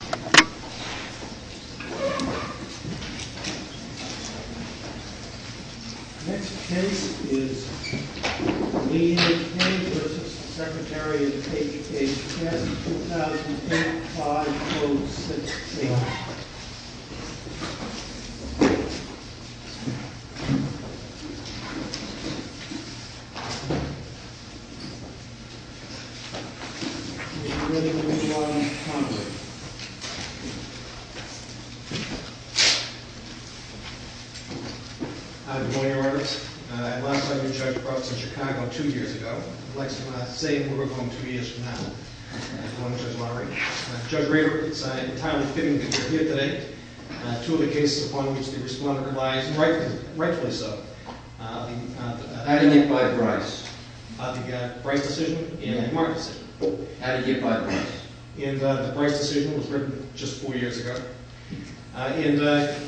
The next case is D. A. King v. Secretary of Education, case 2010-5-06-18. Mr. William John Connolly. Hi, good morning, Your Honor. I'm also here to judge a case in Chicago two years ago. I'd like to say we're going two years from now. Judge Rader, it's entirely fitting that you're here today. Two of the cases upon which the Respondent relies, and rightfully so, the Attagate by Bryce, the Bryce decision, and the Marcus decision. Attagate by Bryce. And the Bryce decision was written just four years ago. And I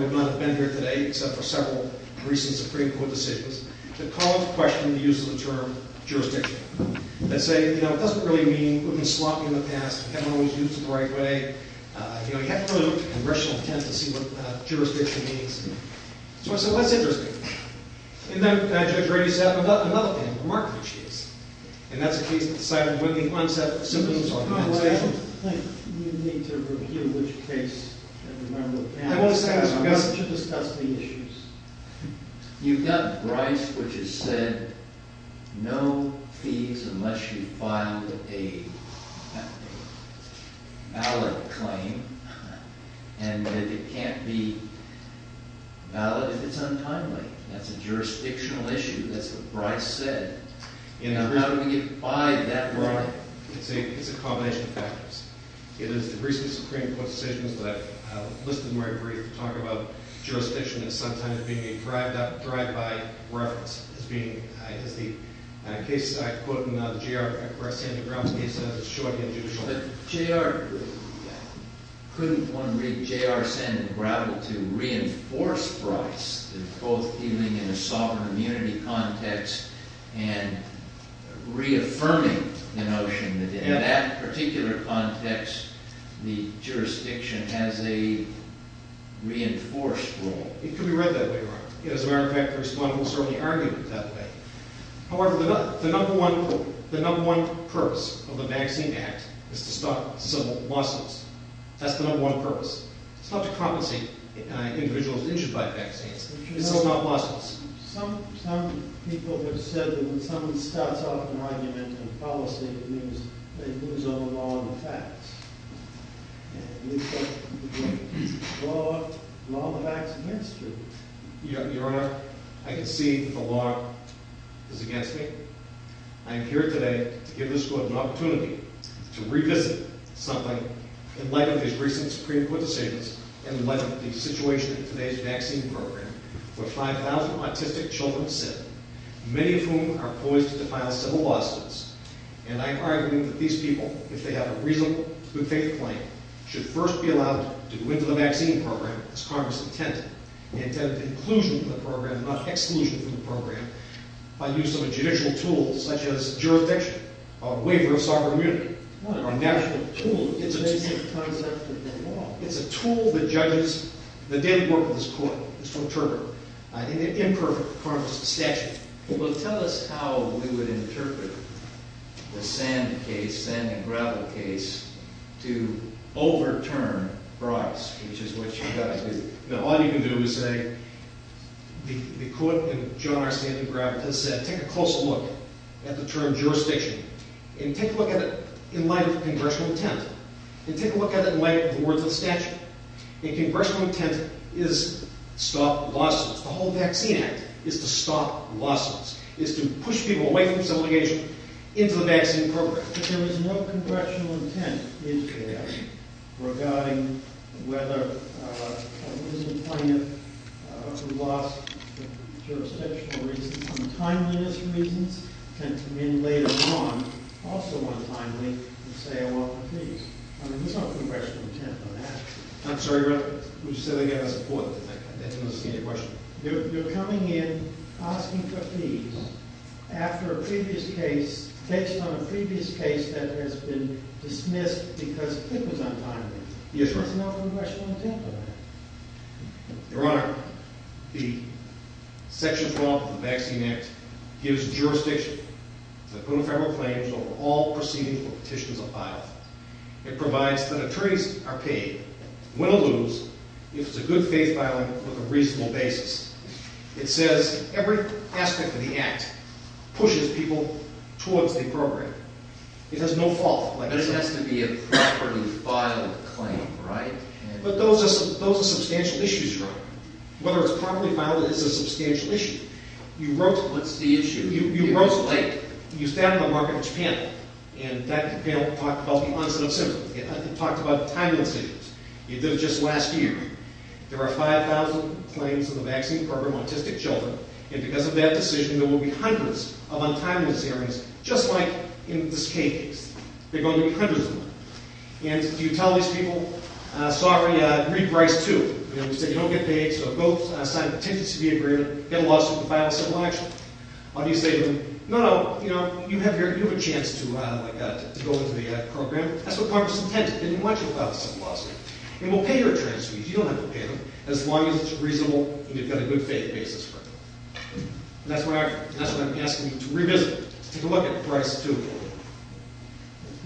would not have been here today except for several recent Supreme Court decisions. The calls questioned the use of the term jurisdiction. They say, you know, it doesn't really mean we've been sloppy in the past, we haven't always used it the right way. You know, you have to put a little congressional intent to see what jurisdiction means. So I said, well, that's interesting. And then Judge Rader set up another panel, a remarkable case. And that's the case that decided to win the unsubstantiated argument. I don't think you need to review which case every member of the panel has. I want to discuss the issues. You've got Bryce, which has said no fees unless you file a valid claim, and that it can't be valid if it's untimely. That's a jurisdictional issue. That's what Bryce said. Now how do we get by that right? It's a combination of factors. It is the recent Supreme Court decisions that I've listed in my brief to talk about jurisdiction as sometimes being a drive-by reference. As the case I quote in the J.R. Sandengravel case, it's a short and judicial case. Couldn't one read J.R. Sandengravel to reinforce Bryce, both dealing in a sovereign immunity context and reaffirming the notion that in that particular context the jurisdiction has a reinforced role? It could be read that way, Your Honor. As a matter of fact, the respondent will certainly argue it that way. However, the number one purpose of the Vaccine Act is to stop civil lawsuits. That's the number one purpose. It's not to compensate individuals injured by vaccines. It's to stop lawsuits. Some people have said that when someone starts off an argument in a policy, it means they lose all the law and the facts. At least that's what the law of the vaccine industry. Your Honor, I concede that the law is against me. I am here today to give this court an opportunity to revisit something in light of these recent Supreme Court decisions and in light of the situation in today's vaccine program where 5,000 autistic children sit, many of whom are poised to file civil lawsuits. And I argue that these people, if they have a reasonable, good faith claim, should first be allowed to go into the vaccine program, as Congress intended, the intended inclusion of the program, not exclusion from the program, by use of a judicial tool such as jurisdiction, a waiver of sovereign immunity, a national tool. It's a tool that judges. The daily work of this court is from Turner. I think it's imperfect in terms of statute. Well, tell us how we would interpret the Sand and Gravel case to overturn Bryce, which is what you guys did. All you can do is say, the court in John R. Sand and Gravel has said take a closer look at the term jurisdiction and take a look at it in light of congressional intent and take a look at it in light of the words of the statute. And congressional intent is to stop lawsuits. The whole vaccine act is to stop lawsuits, is to push people away from civil litigation into the vaccine program. But there is no congressional intent in there regarding whether it is a plaintiff who lost for jurisdictional reasons, untimeliness reasons, tend to win later on, also untimely, and say, well, please. I mean, there's no congressional intent on that. I'm sorry, Your Honor. What you said there was important. I didn't understand your question. You're coming in asking for fees after a previous case, based on a previous case that has been dismissed because it was untimely. Yes, Your Honor. There's no congressional intent on that. Your Honor, the section 12 of the vaccine act gives jurisdiction over all proceedings or petitions of violence. It provides that attorneys are paid, win or lose, if it's a good faith filing with a reasonable basis. It says every aspect of the act pushes people towards the program. It has no fault. But it has to be a properly filed claim, right? But those are substantial issues, Your Honor. Whether it's properly filed is a substantial issue. What's the issue? You rose late. You sat on the market with Japan, and that panel talked about the onset of symptoms. It talked about timeliness issues. You did it just last year. There are 5,000 claims in the vaccine program on autistic children, and because of that decision, there will be hundreds of untimeliness hearings, just like in this case. They're going to be hundreds of them. And if you tell these people, sorry, reprice too. You know, you say you don't get paid, so go sign a contingency agreement, get a lawsuit, file a civil action. Or do you say, no, no, you have a chance to go into the program. That's what Congress intends. It didn't want you to file a civil lawsuit. And we'll pay your transfees. You don't have to pay them, as long as it's reasonable and you've got a good faith basis for it. And that's what I'm asking you to revisit. Take a look at reprice too.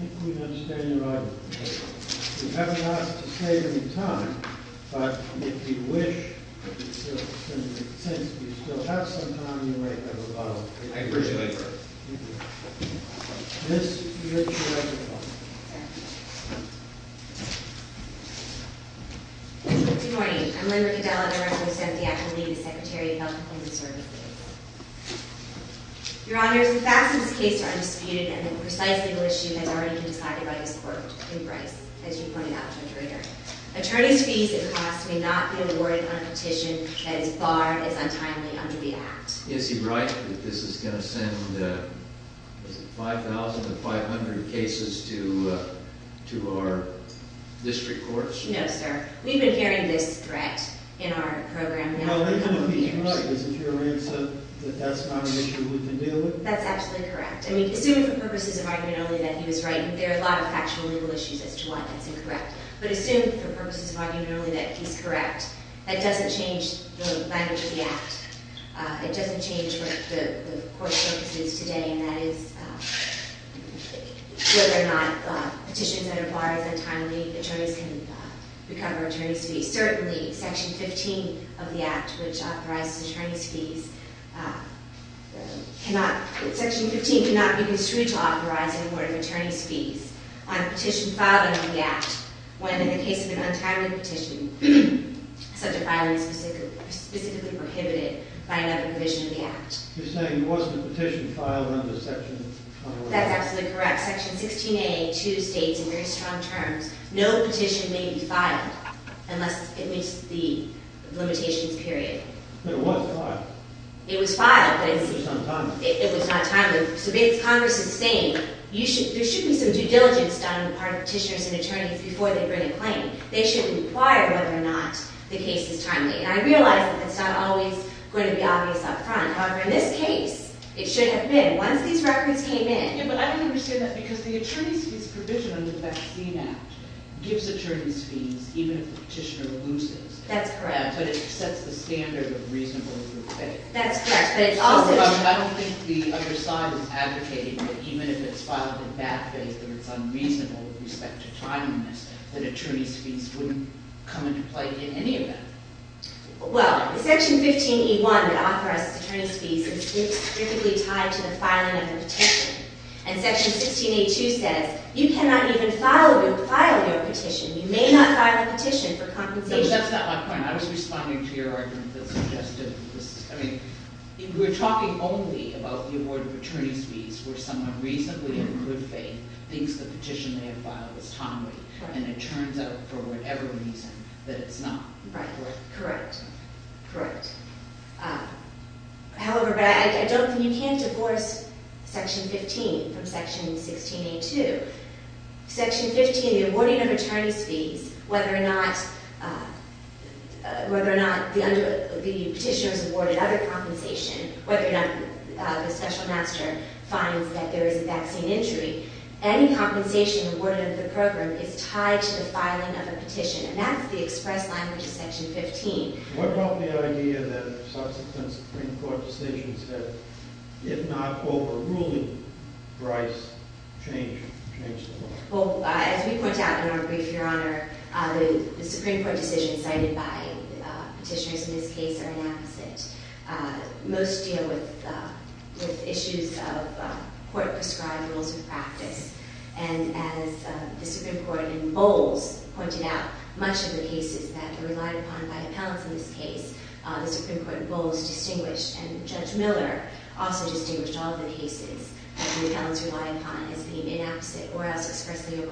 I think we understand your argument. We haven't asked to save any time, but if you wish, since we still have some time, we might have a lot of time. I appreciate it. Thank you. Good morning. I'm Linda Cadella, Director of the Santiago League, Secretary of Health and Human Services. Your Honors, the facts of this case are undisputed, and the precise legal issue has already been decided by this Court in reprice, as you pointed out, Judge Rader. Attorneys' fees and costs may not be awarded on a petition as far as untimely under the Act. Is he right that this is going to send 5,500 cases to our district courts? No, sir. We've been hearing this threat in our program now for many years. No, Linda would be right. Is it your arrears that that's not an issue we can deal with? That's absolutely correct. I mean, assuming for purposes of argument only that he was right, and there are a lot of factual legal issues as to why that's incorrect, but assuming for purposes of argument only that he's correct, that doesn't change the language of the Act. It doesn't change what the Court's focus is today, and that is whether or not petitions that are barred as untimely attorneys can recover attorneys' fees. Certainly, Section 15 of the Act, which authorizes attorneys' fees, Section 15 cannot be construed to authorize an award of attorneys' fees on a petition filed under the Act when, in the case of an untimely petition, such a filing is specifically prohibited by another provision of the Act. You're saying there wasn't a petition filed under Section 15? That's absolutely correct. Section 16A2 states in very strong terms, no petition may be filed unless it meets the limitations period. But it was filed. It was filed. But it was not timely. It was not timely. So Congress is saying there should be some due diligence done on the part of petitioners and attorneys before they bring a claim. They should inquire whether or not the case is timely. And I realize that that's not always going to be obvious up front. However, in this case, it should have been once these records came in. Yeah, but I don't understand that, because the attorneys' fees provision under the Vaccine Act gives attorneys' fees even if the petitioner loses. That's correct. Yeah, but it sets the standard of reasonable due pay. That's correct. I don't think the other side is advocating that even if it's filed in bad faith or it's unreasonable with respect to timeliness, that attorneys' fees wouldn't come into play in any of that. Well, Section 15E1 that authorizes attorneys' fees is strictly tied to the filing of the petition. And Section 16A2 says you cannot even file your petition. You may not file a petition for compensation. That's not my point. I was responding to your argument that suggested this. I mean, we're talking only about the award of attorneys' fees where someone reasonably in good faith thinks the petition they have filed is timely, and it turns out for whatever reason that it's not. Right. Correct. Correct. However, you can't divorce Section 15 from Section 16A2. Section 15, the awarding of attorneys' fees, whether or not the petitioner is awarded other compensation, whether or not the special master finds that there is a vaccine injury, any compensation awarded under the program is tied to the filing of a petition, and that's the express language of Section 15. What about the idea that subsequent Supreme Court decisions that, if not overruling Bryce, change the law? Well, as we point out in our brief, Your Honor, the Supreme Court decisions cited by petitioners in this case are an opposite. Most deal with issues of court-prescribed rules of practice. And as the Supreme Court in Bowles pointed out, much of the cases that are relied upon by appellants in this case, the Supreme Court in Bowles distinguished, and Judge Miller also distinguished all of the cases that the appellants rely upon as being inapposite or as expressly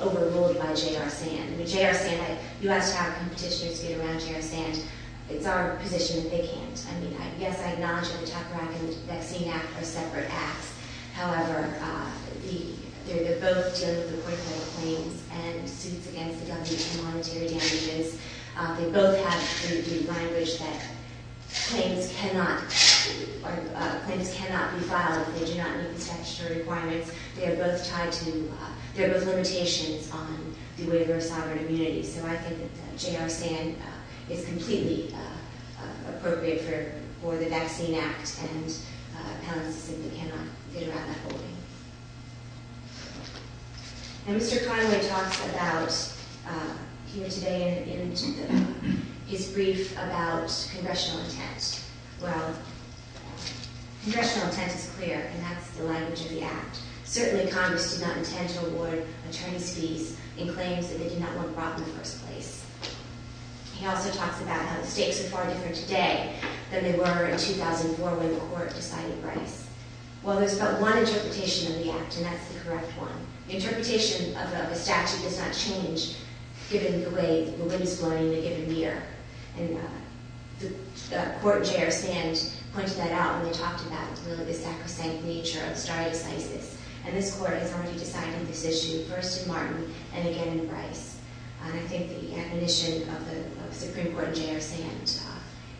overruled by J.R. Sand. With J.R. Sand, you have to have a petitioner to get around J.R. Sand. It's our position that they can't. I mean, yes, I acknowledge that the Tucker-Rackham Vaccine Act are separate acts. However, they're both dealing with important claims and suits against the government for monetary damages. They both have the language that claims cannot be filed. They do not meet the statutory requirements. They are both tied to limitations on the waiver of sovereign immunity. So I think that J.R. Sand is completely appropriate for the vaccine act, and appellants simply cannot get around that holding. And Mr. Conway talks about here today in his brief about congressional intent. Well, congressional intent is clear, and that's the language of the act. Certainly, Congress did not intend to award attorneys fees in claims that they did not want brought in the first place. He also talks about how the stakes are far different today than they were in 2004 when the court decided Bryce. Well, there's but one interpretation of the act, and that's the correct one. The interpretation of the statute does not change given the way the wind is blowing in a given year. And the court in J.R. Sand pointed that out when they talked about, really, the sacrosanct nature of striatocysis. And this court has already decided this issue first in Martin and again in Bryce. And I think the admonition of the Supreme Court in J.R. Sand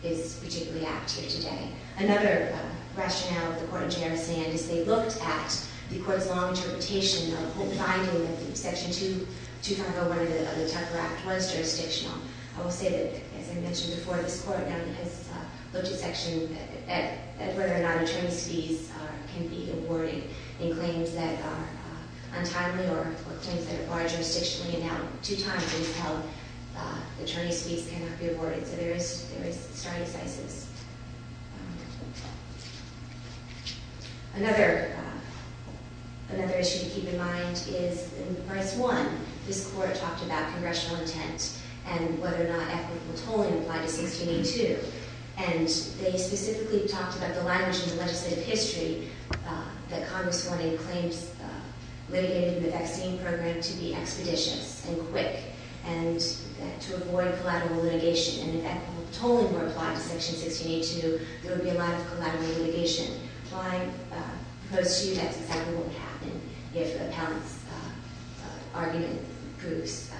is particularly active today. Another rationale of the court in J.R. Sand is they looked at the court's long interpretation of the whole finding of Section 2501 of the Tucker Act was jurisdictional. I will say that, as I mentioned before, this court has looked at section at whether or not attorneys fees can be awarded in claims that are untimely or claims that are far jurisdictional. And now, two times, it was held attorneys fees cannot be awarded. So there is striatocysis. Another issue to keep in mind is in Bryce 1, this court talked about congressional intent and whether or not ethical tolling applied to 1682. And they specifically talked about the language in the legislative history that Congress wanted claims litigated in the vaccine program to be expeditious and quick and to avoid collateral litigation. And if ethical tolling were applied to Section 1682, there would be a lot of collateral litigation. My proposal to you, that's exactly what would happen if Appellant's argument proves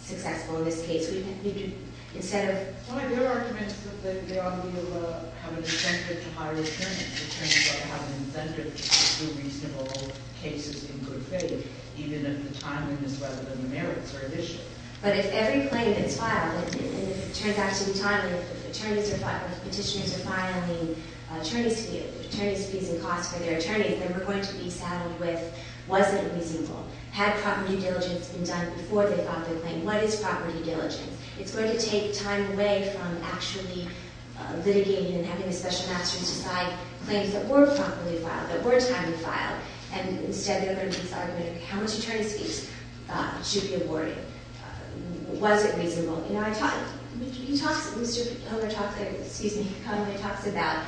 successful in this case. We need to, instead of- My good argument is that they ought to be able to have an incentive to hire attorneys. Attorneys ought to have an incentive to do reasonable cases in good faith, even if the timing is rather than the merits or the issue. But if every claim that's filed, and it turns out to be timely, if petitioners are filing attorneys fees and costs for their attorneys, they were going to be saddled with, was it reasonable? Had property diligence been done before they filed their claim? What is property diligence? It's going to take time away from actually litigating and having the special masters decide claims that were properly filed, that were timely filed. And instead, they're going to make this argument of how much attorneys fees should be awarded. Was it reasonable? You know, I talked- Mr. Homer talked, excuse me, he commonly talks about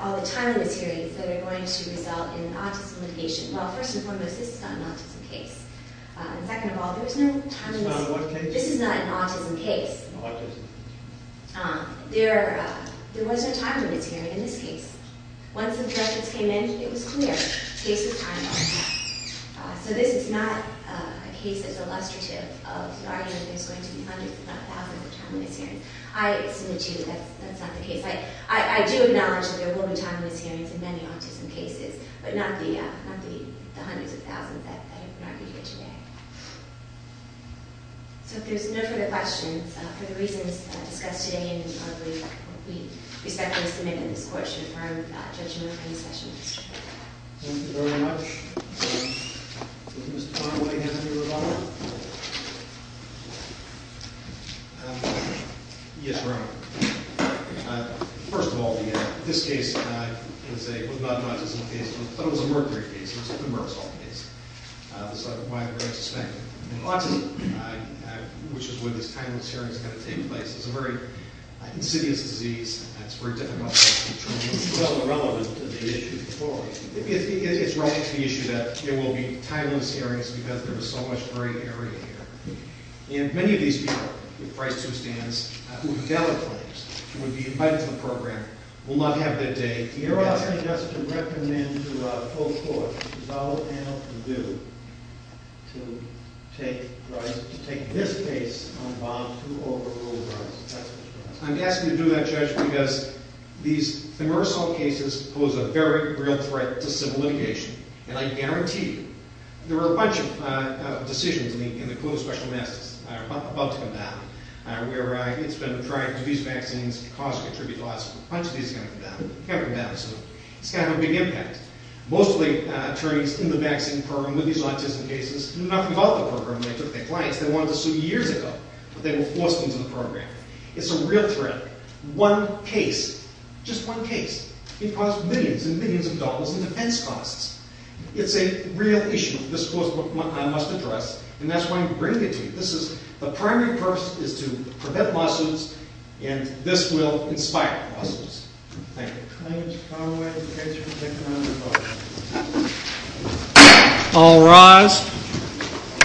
all the timeliness hearings that are going to result in autism litigation. Well, first and foremost, this is not an autism case. And second of all, there's no timeliness- It's not a what case? This is not an autism case. Autism. There was no timeliness hearing in this case. Once objections came in, it was clear. Case of time, autism. So this is not a case that's illustrative of the argument that there's going to be hundreds, if not thousands, of timeliness hearings. I submit to you that that's not the case. I do acknowledge that there will be timeliness hearings in many autism cases, but not the hundreds of thousands that have been argued here today. So if there's no further questions, for the reasons discussed today, I believe that we respectfully submit that this court should adjourn the hearing session. Thank you very much. Mr. Conway, do you have any rebuttal? Yes, Your Honor. First of all, this case was not an autism case, but it was a mercury case. It was a good mercosal case. That's why we're going to suspend it. In autism, which is where this timeliness hearing is going to take place, it's a very insidious disease, and it's very difficult to treat. It's not relevant to the issue before. It's relevant to the issue that there will be timeliness hearings because there was so much hurry here. And many of these people, with price to their stands, who have gathered claims, who would be invited to the program, will not have their day here. Your Honor, I suggest to recommend to the full court, as all panel can do, to take this case on bond to overruled rights. I'm asking you to do that, Judge, because these mercosal cases pose a very real threat to civil litigation. And I guarantee you, there are a bunch of decisions in the Code of Special Masses about to come down, where it's been tried to use vaccines to cause or contribute to autism. A bunch of these are going to come down. It's going to have a big impact. Most of the attorneys in the vaccine program with these autism cases knew nothing about the program. They took their clients. They wanted to sue years ago, but they were forced into the program. It's a real threat. One case, just one case, can cost millions and millions of dollars in defense costs. It's a real issue. This is what I must address, and that's why I'm bringing it to you. The primary purpose is to prevent lawsuits, and this will inspire lawsuits. Thank you. Thank you. All rise.